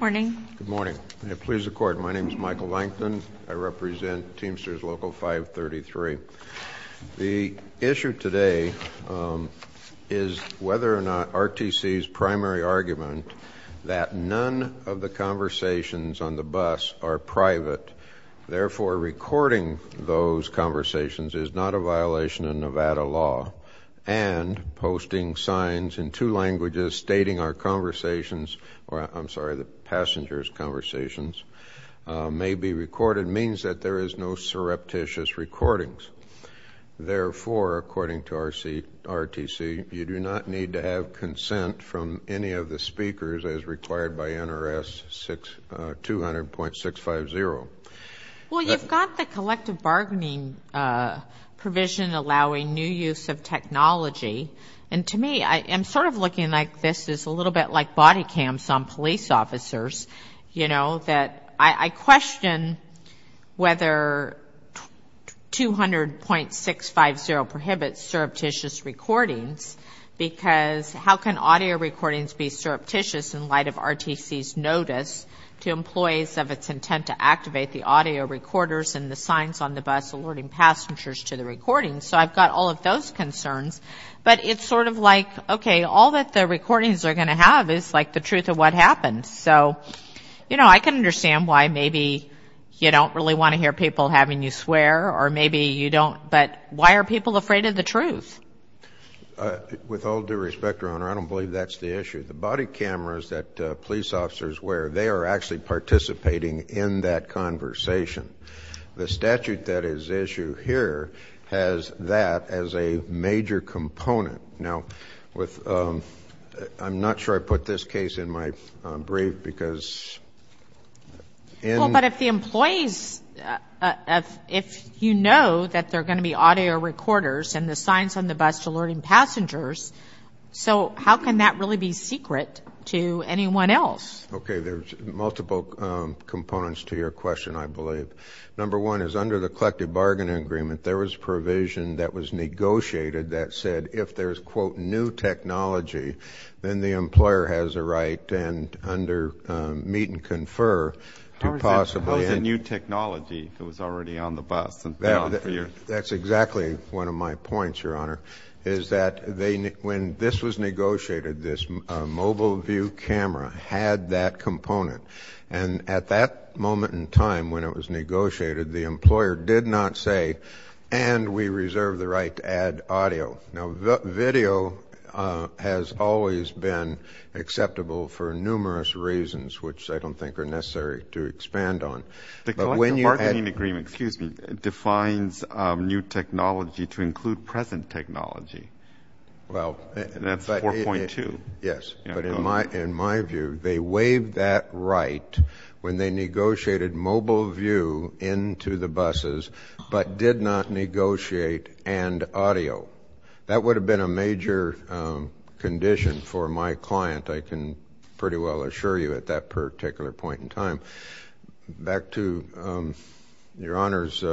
Morning. Good morning. Please record. My name is Michael Langton. I represent Teamsters Local 533 the issue today is Whether or not RTC's primary argument that none of the conversations on the bus are private therefore recording those conversations is not a violation of Nevada law and Posting signs in two languages stating our conversations, or I'm sorry the passengers conversations May be recorded means that there is no surreptitious recordings Therefore according to our seat RTC you do not need to have consent from any of the speakers as required by NRS six 200 point six five zero Well, you've got the collective bargaining Provision allowing new use of technology and to me I am sort of looking like this is a little bit like body cams on police officers. You know that I question whether 200 point six five zero prohibits surreptitious recordings Because how can audio recordings be surreptitious in light of RTC's notice? To employees of its intent to activate the audio recorders and the signs on the bus alerting passengers to the recording So I've got all of those concerns But it's sort of like okay all that the recordings are gonna have is like the truth of what happened So, you know, I can understand why maybe You don't really want to hear people having you swear or maybe you don't but why are people afraid of the truth? With all due respect your honor The body cameras that police officers where they are actually participating in that conversation the statute that is issue here has that as a major component now with I'm not sure. I put this case in my brief because in but if the employees If you know that they're going to be audio recorders and the signs on the bus to learning passengers So, how can that really be secret to anyone else? Okay, there's multiple Components to your question. I believe number one is under the collective bargaining agreement There was provision that was negotiated that said if there's quote new technology Then the employer has a right and under meet and confer Possibly a new technology. It was already on the bus and that's exactly one of my points Is that they when this was negotiated this mobile view camera had that component and at that moment in time when it was negotiated the employer did not say And we reserve the right to add audio now the video has always been Acceptable for numerous reasons which I don't think are necessary to expand on the collective bargaining agreement. Excuse me defines New technology to include present technology Well, that's four point two. Yes, but in my in my view they waived that right when they negotiated Mobile view into the buses, but did not negotiate and audio That would have been a major Condition for my client I can pretty well assure you at that particular point in time back to your honors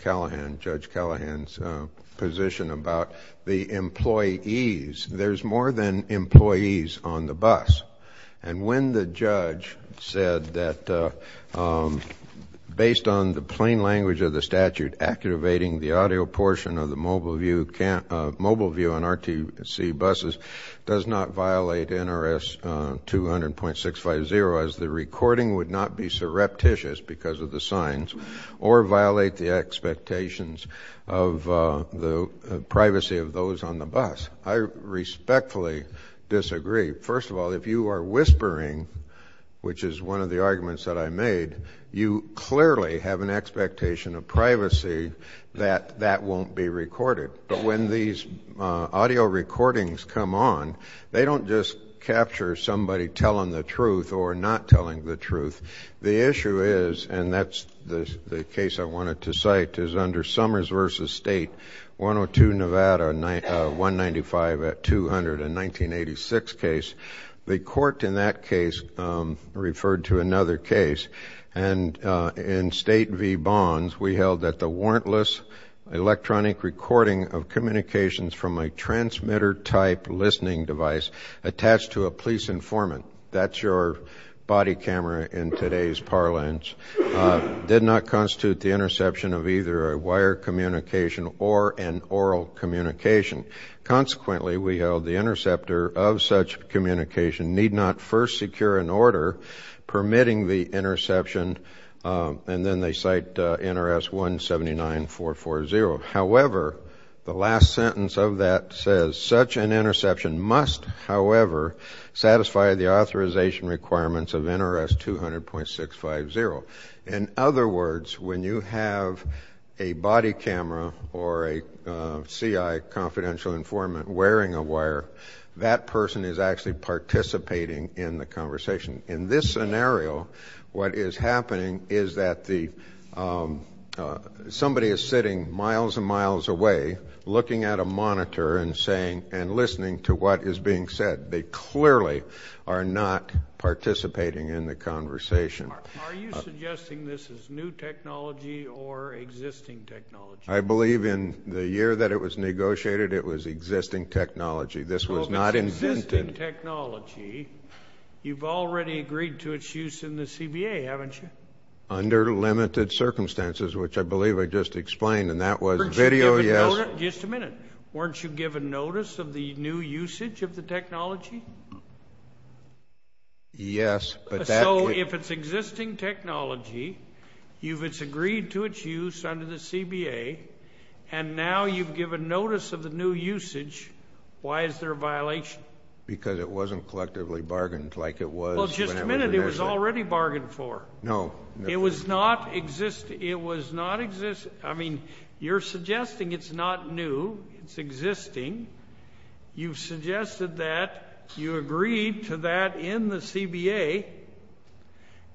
Callahan judge Callahan's position about the employees there's more than employees on the bus and when the judge said that Based on the plain language of the statute Accurating the audio portion of the mobile view can't mobile view on RTC buses does not violate NRS 200 point six five zero as the recording would not be surreptitious because of the signs or violate the expectations of the Privacy of those on the bus. I Respectfully disagree. First of all, if you are whispering Which is one of the arguments that I made you clearly have an expectation of privacy that that won't be recorded, but when these Audio recordings come on. They don't just capture somebody telling the truth or not telling the truth The issue is and that's the case. I wanted to cite is under Summers versus state 102 Nevada 195 at 200 in 1986 case the court in that case referred to another case and In state V bonds, we held that the warrantless electronic recording of communications from a transmitter type listening device Attached to a police informant, that's your body camera in today's parlance Did not constitute the interception of either a wire communication or an oral communication Consequently, we held the interceptor of such communication need not first secure an order permitting the interception And then they cite NRS 179 440. However, the last sentence of that says such an interception must however satisfy the authorization requirements of NRS 200 point six five zero in other words when you have a body camera or a CI Confidential informant wearing a wire that person is actually participating in the conversation in this scenario what is happening is that the Somebody is sitting miles and miles away Looking at a monitor and saying and listening to what is being said. They clearly are not participating in the conversation I believe in the year that it was negotiated. It was existing technology. This was not invented technology You've already agreed to its use in the CBA, haven't you under limited circumstances, which I believe I just explained and that was video Yes, just a minute. Weren't you given notice of the new usage of the technology? Yes, but so if it's existing technology You've it's agreed to its use under the CBA and now you've given notice of the new usage Why is there a violation? Because it wasn't collectively bargained like it was just a minute. It was already bargained for no It was not exist. It was not exist. I mean you're suggesting it's not new. It's existing you've suggested that you agreed to that in the CBA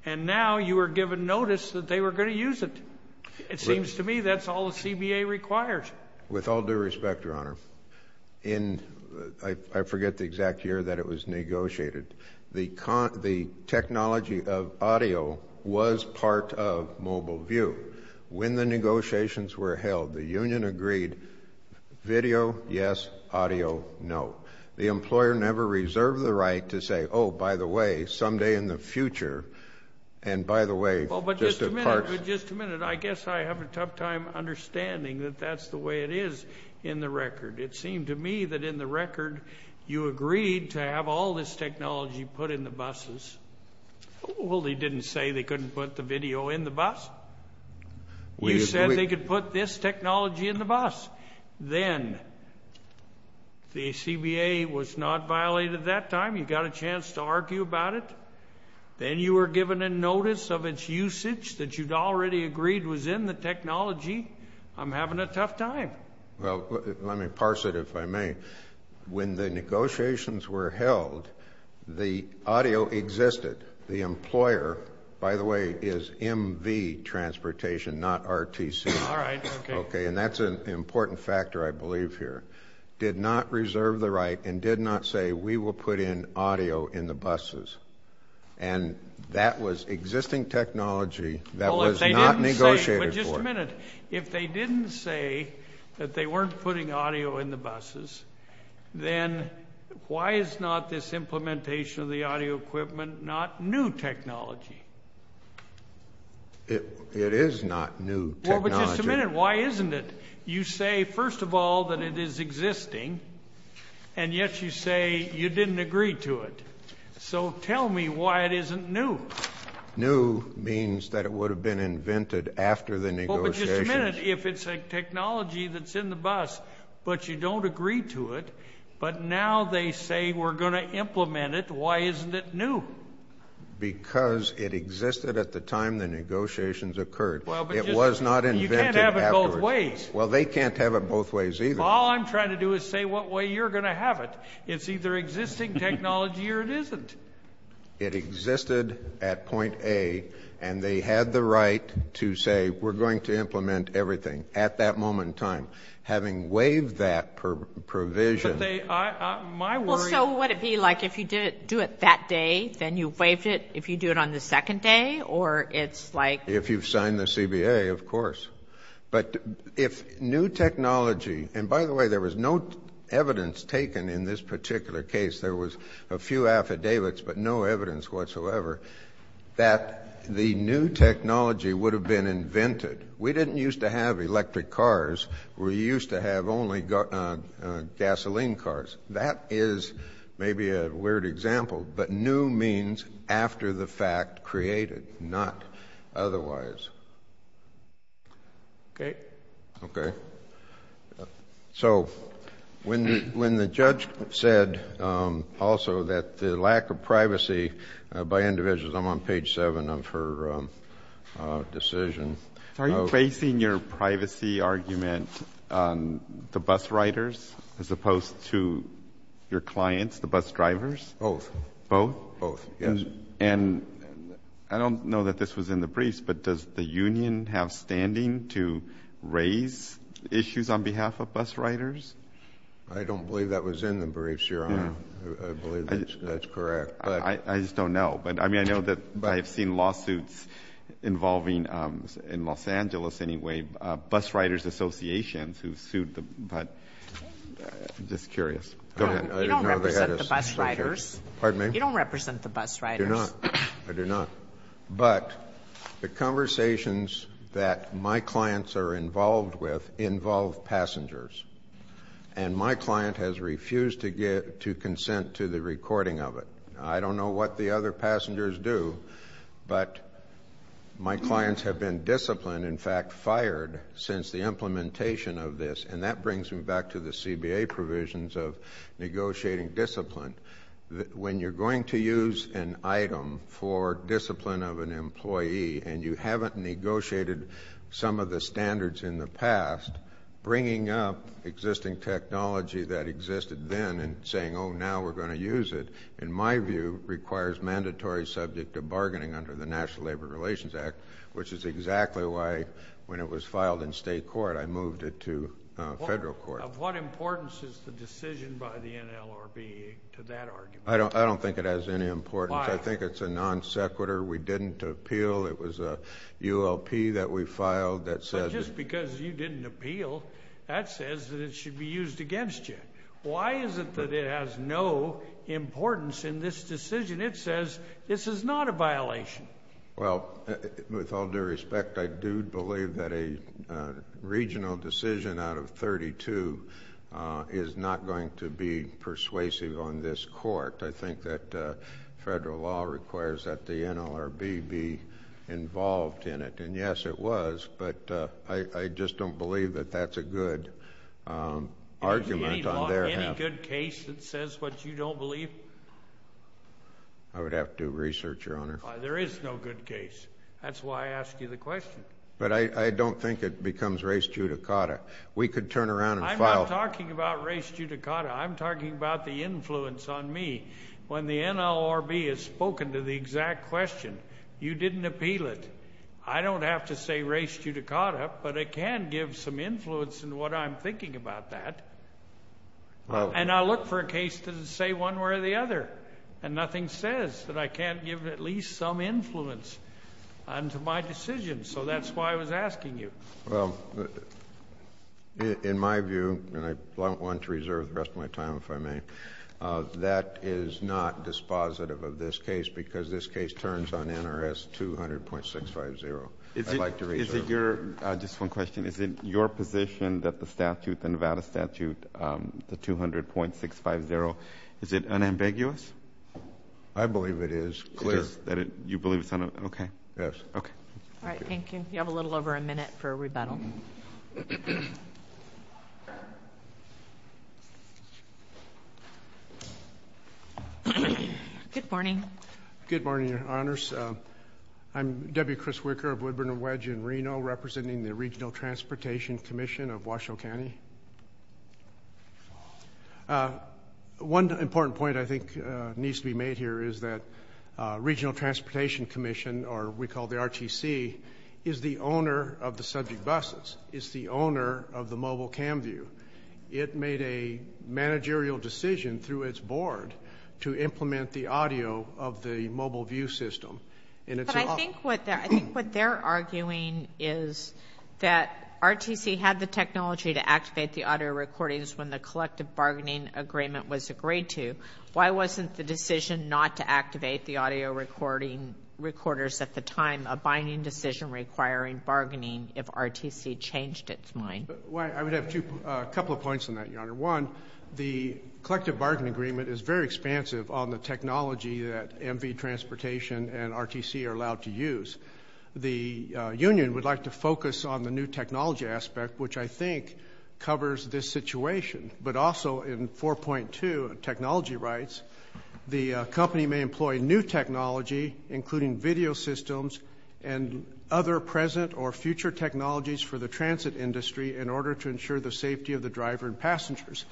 and Now you were given notice that they were going to use it. It seems to me. That's all the CBA requires with all due respect In I forget the exact year that it was negotiated the con the Technology of audio was part of mobile view when the negotiations were held the union agreed Video yes audio. No the employer never reserved the right to say. Oh, by the way someday in the future and By the way, but just a minute. I guess I have a tough time Understanding that that's the way it is in the record It seemed to me that in the record you agreed to have all this technology put in the buses Well, they didn't say they couldn't put the video in the bus We said they could put this technology in the bus then The CBA was not violated that time you got a chance to argue about it Then you were given a notice of its usage that you'd already agreed was in the technology I'm having a tough time. Well, let me parse it if I may When the negotiations were held The audio existed the employer by the way is MV Transportation not RTC. All right. Okay, and that's an important factor I believe here did not reserve the right and did not say we will put in audio in the buses and That was existing technology That was not negotiated just a minute if they didn't say that they weren't putting audio in the buses then Why is not this implementation of the audio equipment not new technology? It it is not new Why isn't it you say first of all that it is existing and New means that it would have been invented after the Technology that's in the bus, but you don't agree to it. But now they say we're gonna implement it. Why isn't it new? Because it existed at the time the negotiations occurred. Well, it was not invented Well, they can't have it both ways. All I'm trying to do is say what way you're gonna have it It's either existing technology or it isn't Existed at point A and they had the right to say we're going to implement everything at that moment in time having waived that provision Like if you did do it that day then you waived it if you do it on the second day or it's like if you've Signed the CBA, of course But if new technology and by the way, there was no evidence taken in this particular case There was a few affidavits, but no evidence whatsoever That the new technology would have been invented. We didn't used to have electric cars. We used to have only got gasoline cars that is Maybe a weird example, but new means after the fact created not otherwise Okay, okay So when when the judge said Also that the lack of privacy by individuals. I'm on page seven of her Decision are you facing your privacy argument? the bus riders as opposed to Your clients the bus drivers. Oh both. Oh, yes, and I don't know that this was in the briefs But does the Union have standing to raise? Issues on behalf of bus riders. I don't believe that was in the briefs your honor That's correct. I just don't know but I mean, I know that I've seen lawsuits Involving in Los Angeles. Anyway bus riders associations who sued them, but Just curious Pardon me, you don't represent the bus right? No, I do not but the conversations that my clients are involved with involve passengers and My client has refused to get to consent to the recording of it. I don't know what the other passengers do but my clients have been disciplined in fact fired since the implementation of this and that brings me back to the CBA provisions of negotiating discipline When you're going to use an item for discipline of an employee and you haven't negotiated some of the standards in the past Bringing up existing technology that existed then and saying oh now we're going to use it in my view requires Mandatory subject to bargaining under the National Labor Relations Act, which is exactly why when it was filed in state court I moved it to federal court. Of what importance is the decision by the NLRB to that argument? I don't I don't think it has any importance. I think it's a non sequitur. We didn't appeal It was a ULP that we filed that says just because you didn't appeal that says that it should be used against you Why is it that it has no? Importance in this decision. It says this is not a violation. Well with all due respect. I do believe that a regional decision out of 32 Is not going to be persuasive on this court. I think that federal law requires that the NLRB be Involved in it. And yes, it was but I I just don't believe that that's a good Argument on their good case that says what you don't believe I Would have to research your honor. There is no good case That's why I asked you the question, but I don't think it becomes race judicata. We could turn around and file talking about race judicata I'm talking about the influence on me when the NLRB has spoken to the exact question You didn't appeal it I don't have to say race judicata, but it can give some influence in what I'm thinking about that And I look for a case to say one way or the other and nothing says that I can't give at least some influence Unto my decision. So that's why I was asking you. Well In my view and I want to reserve the rest of my time if I may That is not Dispositive of this case because this case turns on NRS 200 point six five zero It's like is it your just one question? Is it your position that the statute the Nevada statute? The two hundred point six five zero. Is it unambiguous? I Believe it is clear that it you believe it's on. Okay. Yes. Okay. All right. Thank you You have a little over a minute for a rebuttal Good Morning good morning. Your honors I'm Debbie Chris Wicker of Woodburn and Wedge in Reno representing the Regional Transportation Commission of Washoe County One important point I think needs to be made here is that Regional Transportation Commission or we call the RTC is the owner of the subject buses it's the owner of the mobile cam view it made a Managerial decision through its board to implement the audio of the mobile view system And it's I think what I think what they're arguing is That RTC had the technology to activate the audio recordings when the collective bargaining agreement was agreed to Why wasn't the decision not to activate the audio recording? Recorders at the time a binding decision requiring bargaining if RTC changed its mind I would have to a couple of points in that your honor one The collective bargaining agreement is very expansive on the technology that MV transportation and RTC are allowed to use The union would like to focus on the new technology aspect, which I think Covers this situation, but also in 4.2 technology rights the company may employ new technology including video systems and Other present or future technologies for the transit industry in order to ensure the safety of the driver and passengers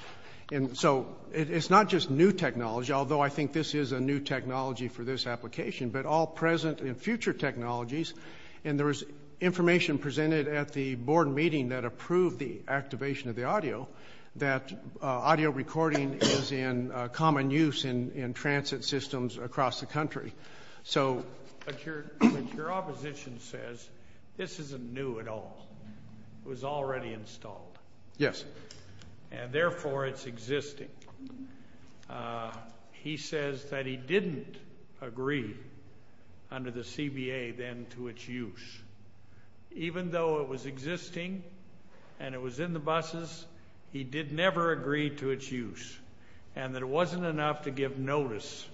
And so it's not just new technology although I think this is a new technology for this application, but all present in future technologies and there was information presented at the board meeting that approved the activation of the audio that Audio recording is in common use in in transit systems across the country. So This isn't new at all It was already installed. Yes, and therefore it's existing He says that he didn't agree Under the CBA then to its use Even though it was existing and it was in the buses He did never agree to its use and that it wasn't enough to give notice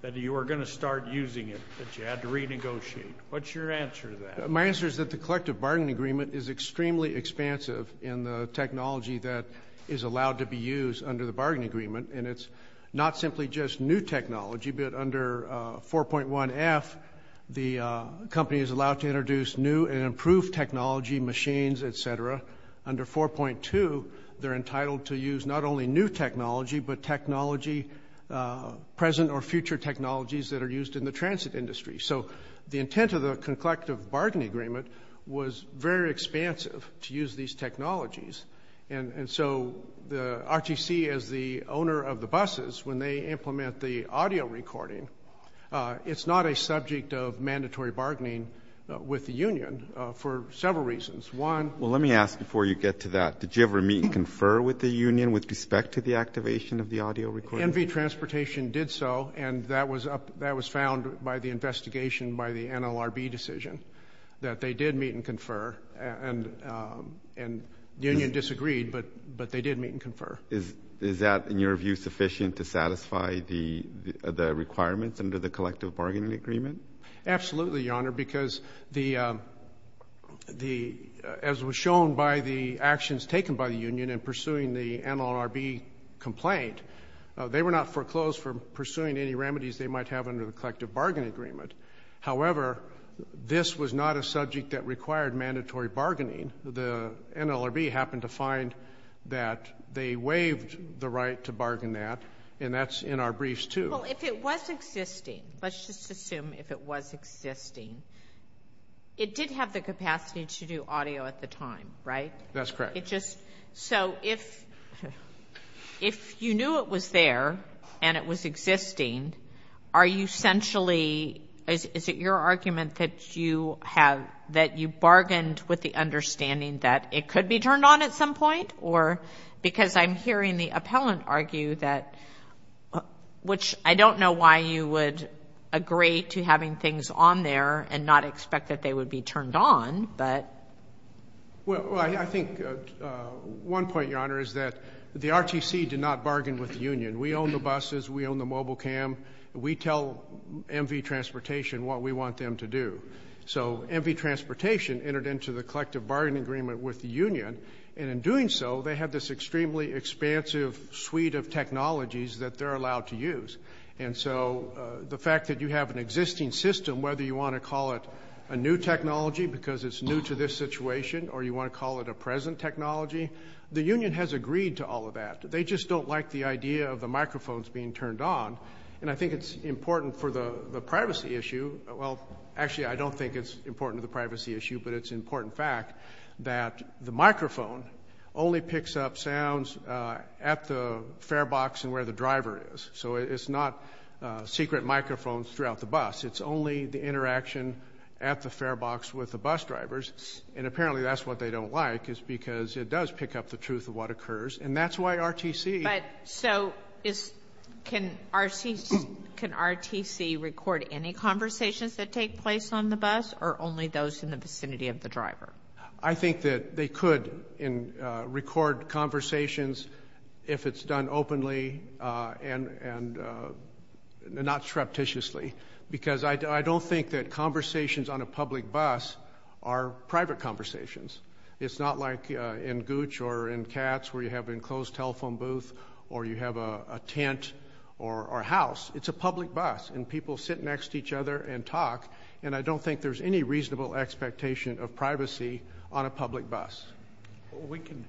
That you are going to start using it that you had to renegotiate what's your answer that my answer is that the collective bargain agreement is extremely expansive in the Technology that is allowed to be used under the bargain agreement, and it's not simply just new technology, but under 4.1 f the Company is allowed to introduce new and improved technology machines, etc Under 4.2. They're entitled to use not only new technology, but technology Present or future technologies that are used in the transit industry So the intent of the collective bargain agreement was very expansive to use these technologies And and so the RTC as the owner of the buses when they implement the audio recording It's not a subject of mandatory bargaining with the Union for several reasons one Well, let me ask before you get to that Confer with the Union with respect to the activation of the audio record MV transportation did so and that was up that was found by the investigation by the NLRB decision that they did meet and confer and and Union disagreed but but they did meet and confer is is that in your view sufficient to satisfy the requirements under the collective bargaining agreement absolutely your honor because the The as was shown by the actions taken by the Union and pursuing the NLRB Complaint they were not foreclosed for pursuing any remedies. They might have under the collective bargain agreement however This was not a subject that required mandatory bargaining the NLRB happened to find That they waived the right to bargain that and that's in our briefs, too Well if it was existing, let's just assume if it was existing It did have the capacity to do audio at the time, right? That's correct. It just so if If you knew it was there and it was existing Are you essentially is it your argument that you have that you bargained with the? understanding that it could be turned on at some point or because I'm hearing the appellant argue that Which I don't know why you would agree to having things on there and not expect that they would be turned on but well, I think One point your honor is that the RTC did not bargain with the Union. We own the buses. We own the mobile cam We tell MV Transportation what we want them to do So MV Transportation entered into the collective bargaining agreement with the Union and in doing so they have this extremely Expansive suite of technologies that they're allowed to use and so the fact that you have an existing system whether you want to call it a new technology because it's new to this situation or You want to call it a present technology? The Union has agreed to all of that They just don't like the idea of the microphones being turned on and I think it's important for the the privacy issue Well, actually, I don't think it's important to the privacy issue But it's important fact that the microphone only picks up sounds at the fare box and where the driver is So it's not Secret microphones throughout the bus. It's only the interaction at the fare box with the bus drivers and apparently that's what they don't like It's because it does pick up the truth of what occurs and that's why RTC but so is Can RTC Can RTC record any conversations that take place on the bus or only those in the vicinity of the driver? I think that they could in record conversations if it's done openly and and Not surreptitiously because I don't think that conversations on a public bus are private conversations It's not like in Gooch or in cats where you have an enclosed telephone booth or you have a tent or Our house. It's a public bus and people sit next to each other and talk and I don't think there's any reasonable expectation of privacy on a public bus We can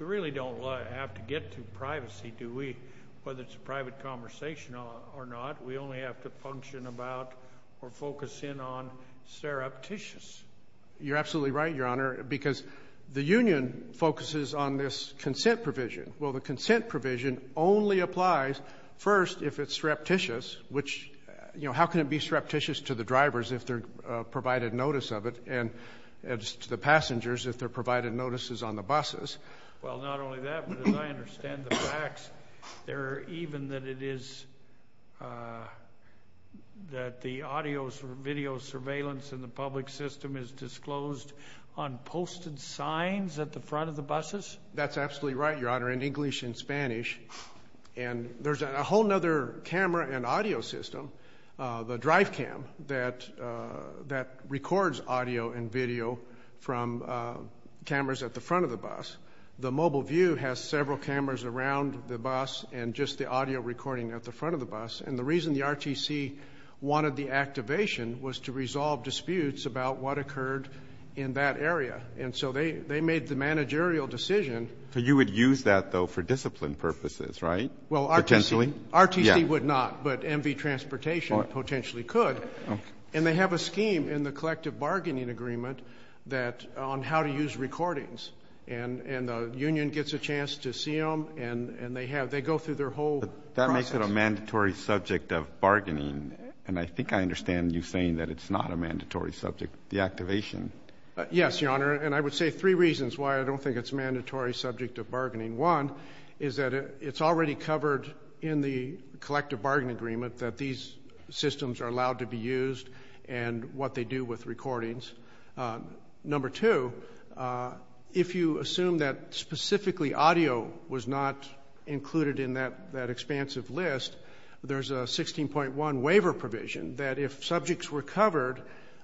we really don't have to get to privacy. Do we whether it's a private conversation or not? We only have to function about or focus in on Surreptitious You're absolutely right your honor because the Union focuses on this consent provision Well, the consent provision only applies first if it's surreptitious which you know, how can it be surreptitious to the drivers if they're provided notice of it and The passengers if they're provided notices on the buses There even that it is That the audio or video surveillance in the public system is disclosed on Posted signs at the front of the buses. That's absolutely right. Your honor in English and Spanish and There's a whole nother camera and audio system the drive cam that that records audio and video from cameras at the front of the bus The mobile view has several cameras around the bus and just the audio recording at the front of the bus and the reason the RTC Wanted the activation was to resolve disputes about what occurred in that area And so they they made the managerial decision so you would use that though for discipline purposes, right? Well, I potentially RTC would not but MV transportation potentially could and they have a scheme in the collective bargaining Agreement that on how to use recordings and and the union gets a chance to see them and and they have they go through their Whole that makes it a mandatory subject of bargaining and I think I understand you saying that it's not a mandatory subject the activation Yes, your honor and I would say three reasons why I don't think it's mandatory subject of bargaining one is that it's already covered in the collective bargain agreement that these Systems are allowed to be used and what they do with recordings number two If you assume that specifically audio was not Included in that that expansive list There's a sixteen point one waiver provision that if subjects were covered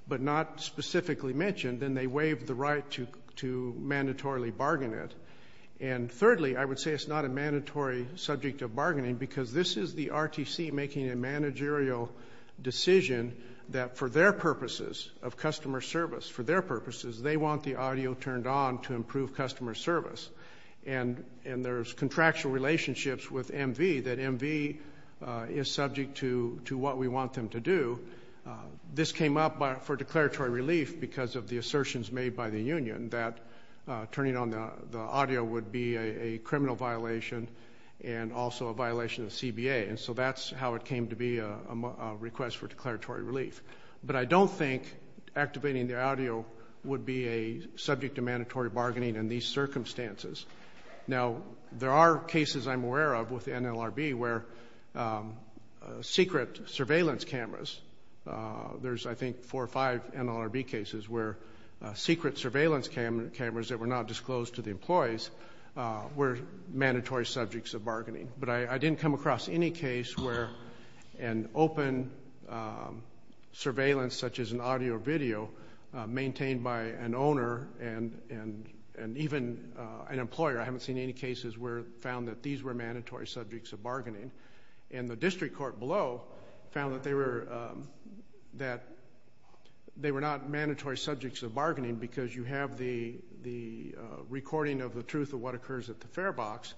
but not specifically mentioned then they waived the right to to mandatorily bargain it and Thirdly, I would say it's not a mandatory subject of bargaining because this is the RTC making a managerial Decision that for their purposes of customer service for their purposes. They want the audio turned on to improve customer service and And there's contractual relationships with MV that MV is subject to to what we want them to do this came up by for declaratory relief because of the assertions made by the Union that turning on the audio would be a criminal violation and also a violation of CBA and so that's how it came to be a Request for declaratory relief, but I don't think Activating the audio would be a subject to mandatory bargaining in these circumstances now there are cases I'm aware of with NLRB where Secret surveillance cameras There's I think four or five NLRB cases where secret surveillance cameras cameras that were not disclosed to the employees were mandatory subjects of bargaining, but I didn't come across any case where an open Surveillance such as an audio-video Maintained by an owner and and and even an employer I haven't seen any cases where found that these were mandatory subjects of bargaining and the district court below found that they were that they were not mandatory subjects of bargaining because you have the the Recording of the truth of what occurs at the fare box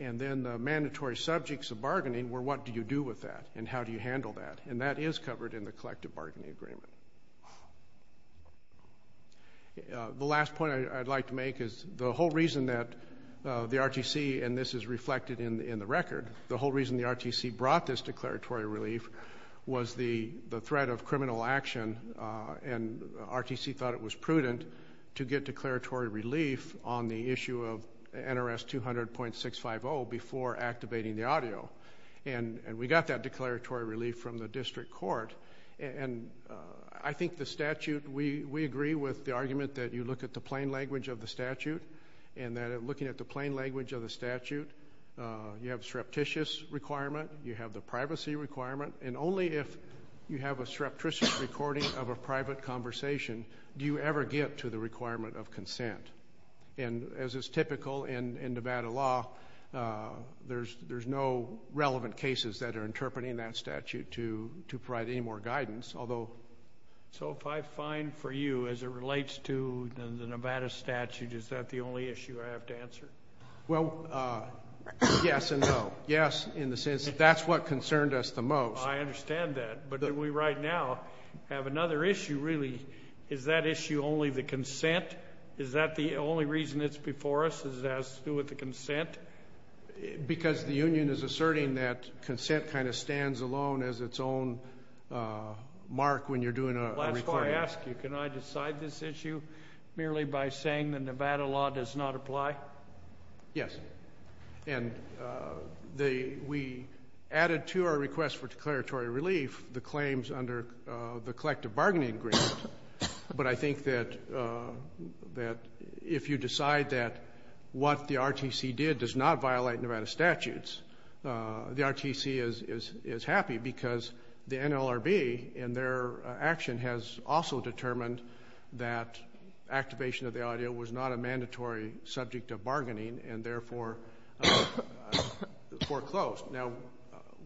and then the mandatory subjects of bargaining were what do you do with that? And how do you handle that and that is covered in the collective bargaining agreement? The last point I'd like to make is the whole reason that The RTC and this is reflected in in the record the whole reason the RTC brought this declaratory relief was the the threat of criminal action and RTC thought it was prudent to get declaratory relief on the issue of NRS 200.650 before activating the audio and and we got that declaratory relief from the district court and I think the statute we we agree with the argument that you look at the plain language of the statute and That looking at the plain language of the statute You have surreptitious Requirement you have the privacy requirement and only if you have a surreptitious recording of a private conversation Do you ever get to the requirement of consent and as is typical in in Nevada law There's there's no relevant cases that are interpreting that statute to to provide any more guidance. Although So if I find for you as it relates to the Nevada statute, is that the only issue I have to answer? Well Yes, and no. Yes in the sense. That's what concerned us the most. I understand that but that we right now have another issue really Is that issue only the consent? Is that the only reason it's before us? Is that has to do with the consent? Because the Union is asserting that consent kind of stands alone as its own Mark when you're doing a last I ask you can I decide this issue merely by saying the Nevada law does not apply? yes, and The we added to our request for declaratory relief the claims under the collective bargaining agreement but I think that That if you decide that what the RTC did does not violate Nevada statutes the RTC is is is happy because the NLRB and their action has also determined that Activation of the audio was not a mandatory subject of bargaining and therefore Foreclosed now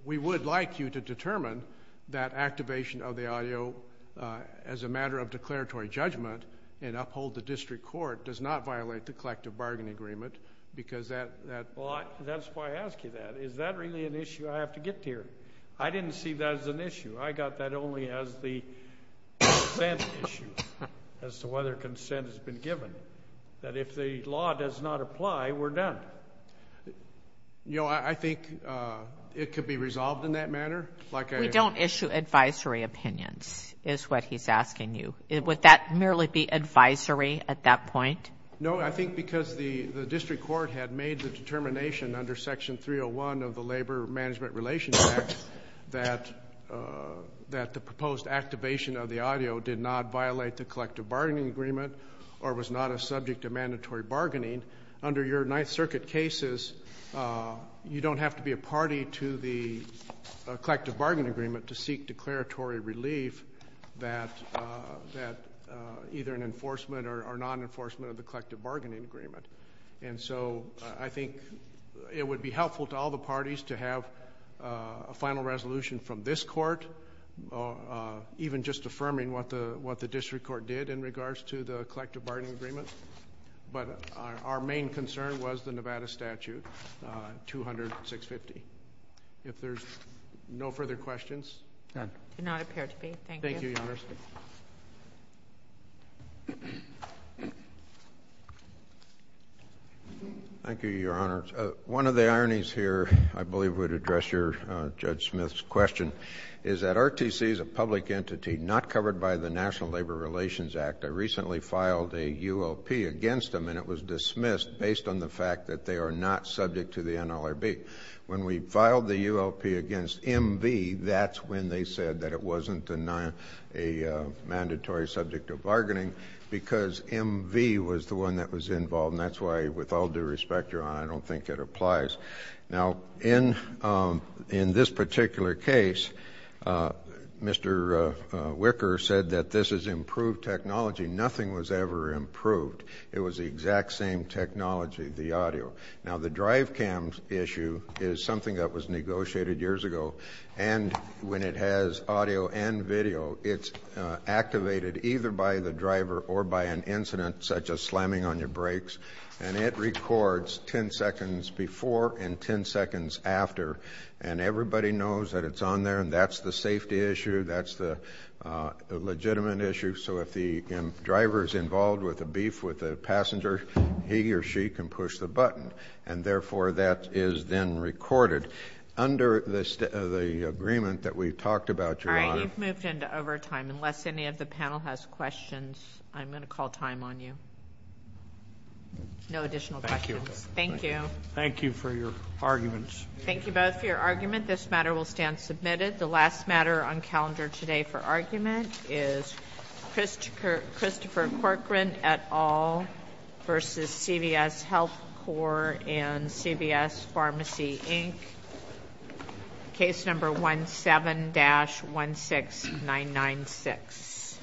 we would like you to determine that activation of the audio As a matter of declaratory judgment and uphold the district court does not violate the collective bargaining agreement because that That's why I ask you that is that really an issue. I have to get here. I didn't see that as an issue I got that only as the Then issue as to whether consent has been given that if the law does not apply we're done You know I think It could be resolved in that manner like I don't issue advisory opinions Is what he's asking you it would that merely be advisory at that point no? I think because the the district court had made the determination under section 301 of the Labor Management Relations Act that That the proposed activation of the audio did not violate the collective bargaining agreement Or was not a subject of mandatory bargaining under your Ninth Circuit cases you don't have to be a party to the Collective bargaining agreement to seek declaratory relief that that either an enforcement or non-enforcement of the collective bargaining agreement And so I think it would be helpful to all the parties to have a final resolution from this court Even just affirming what the what the district court did in regards to the collective bargaining agreement But our main concern was the Nevada statute 200 650 if there's no further questions Thank you your honor one of the ironies here I believe would address your judge Smith's question is that RTC is a public entity not covered by the National Labor Relations Act I recently filed a ULP against them and it was dismissed based on the fact that they are not subject to the NLRB when we filed the ULP against MV, that's when they said that it wasn't a Mandatory subject of bargaining because MV was the one that was involved and that's why with all due respect your honor I don't think it applies now in in this particular case Mr. Wicker said that this is improved technology. Nothing was ever improved It was the exact same technology the audio now the drive cams issue is something that was negotiated years ago and when it has audio and video it's Activated either by the driver or by an incident such as slamming on your brakes and it records 10 seconds before and 10 seconds after and everybody knows that it's on there and that's the safety issue. That's the legitimate issue so if the Drivers involved with a beef with the passenger he or she can push the button and therefore that is then recorded Under this the agreement that we've talked about your moved into overtime unless any of the panel has questions I'm gonna call time on you No additional questions, thank you. Thank you for your arguments. Thank you both for your argument this matter will stand submitted the last matter on calendar today for argument is Christopher Christopher Corcoran et al versus CVS Health Corps and CVS Pharmacy Inc Case number one seven dash one six nine nine six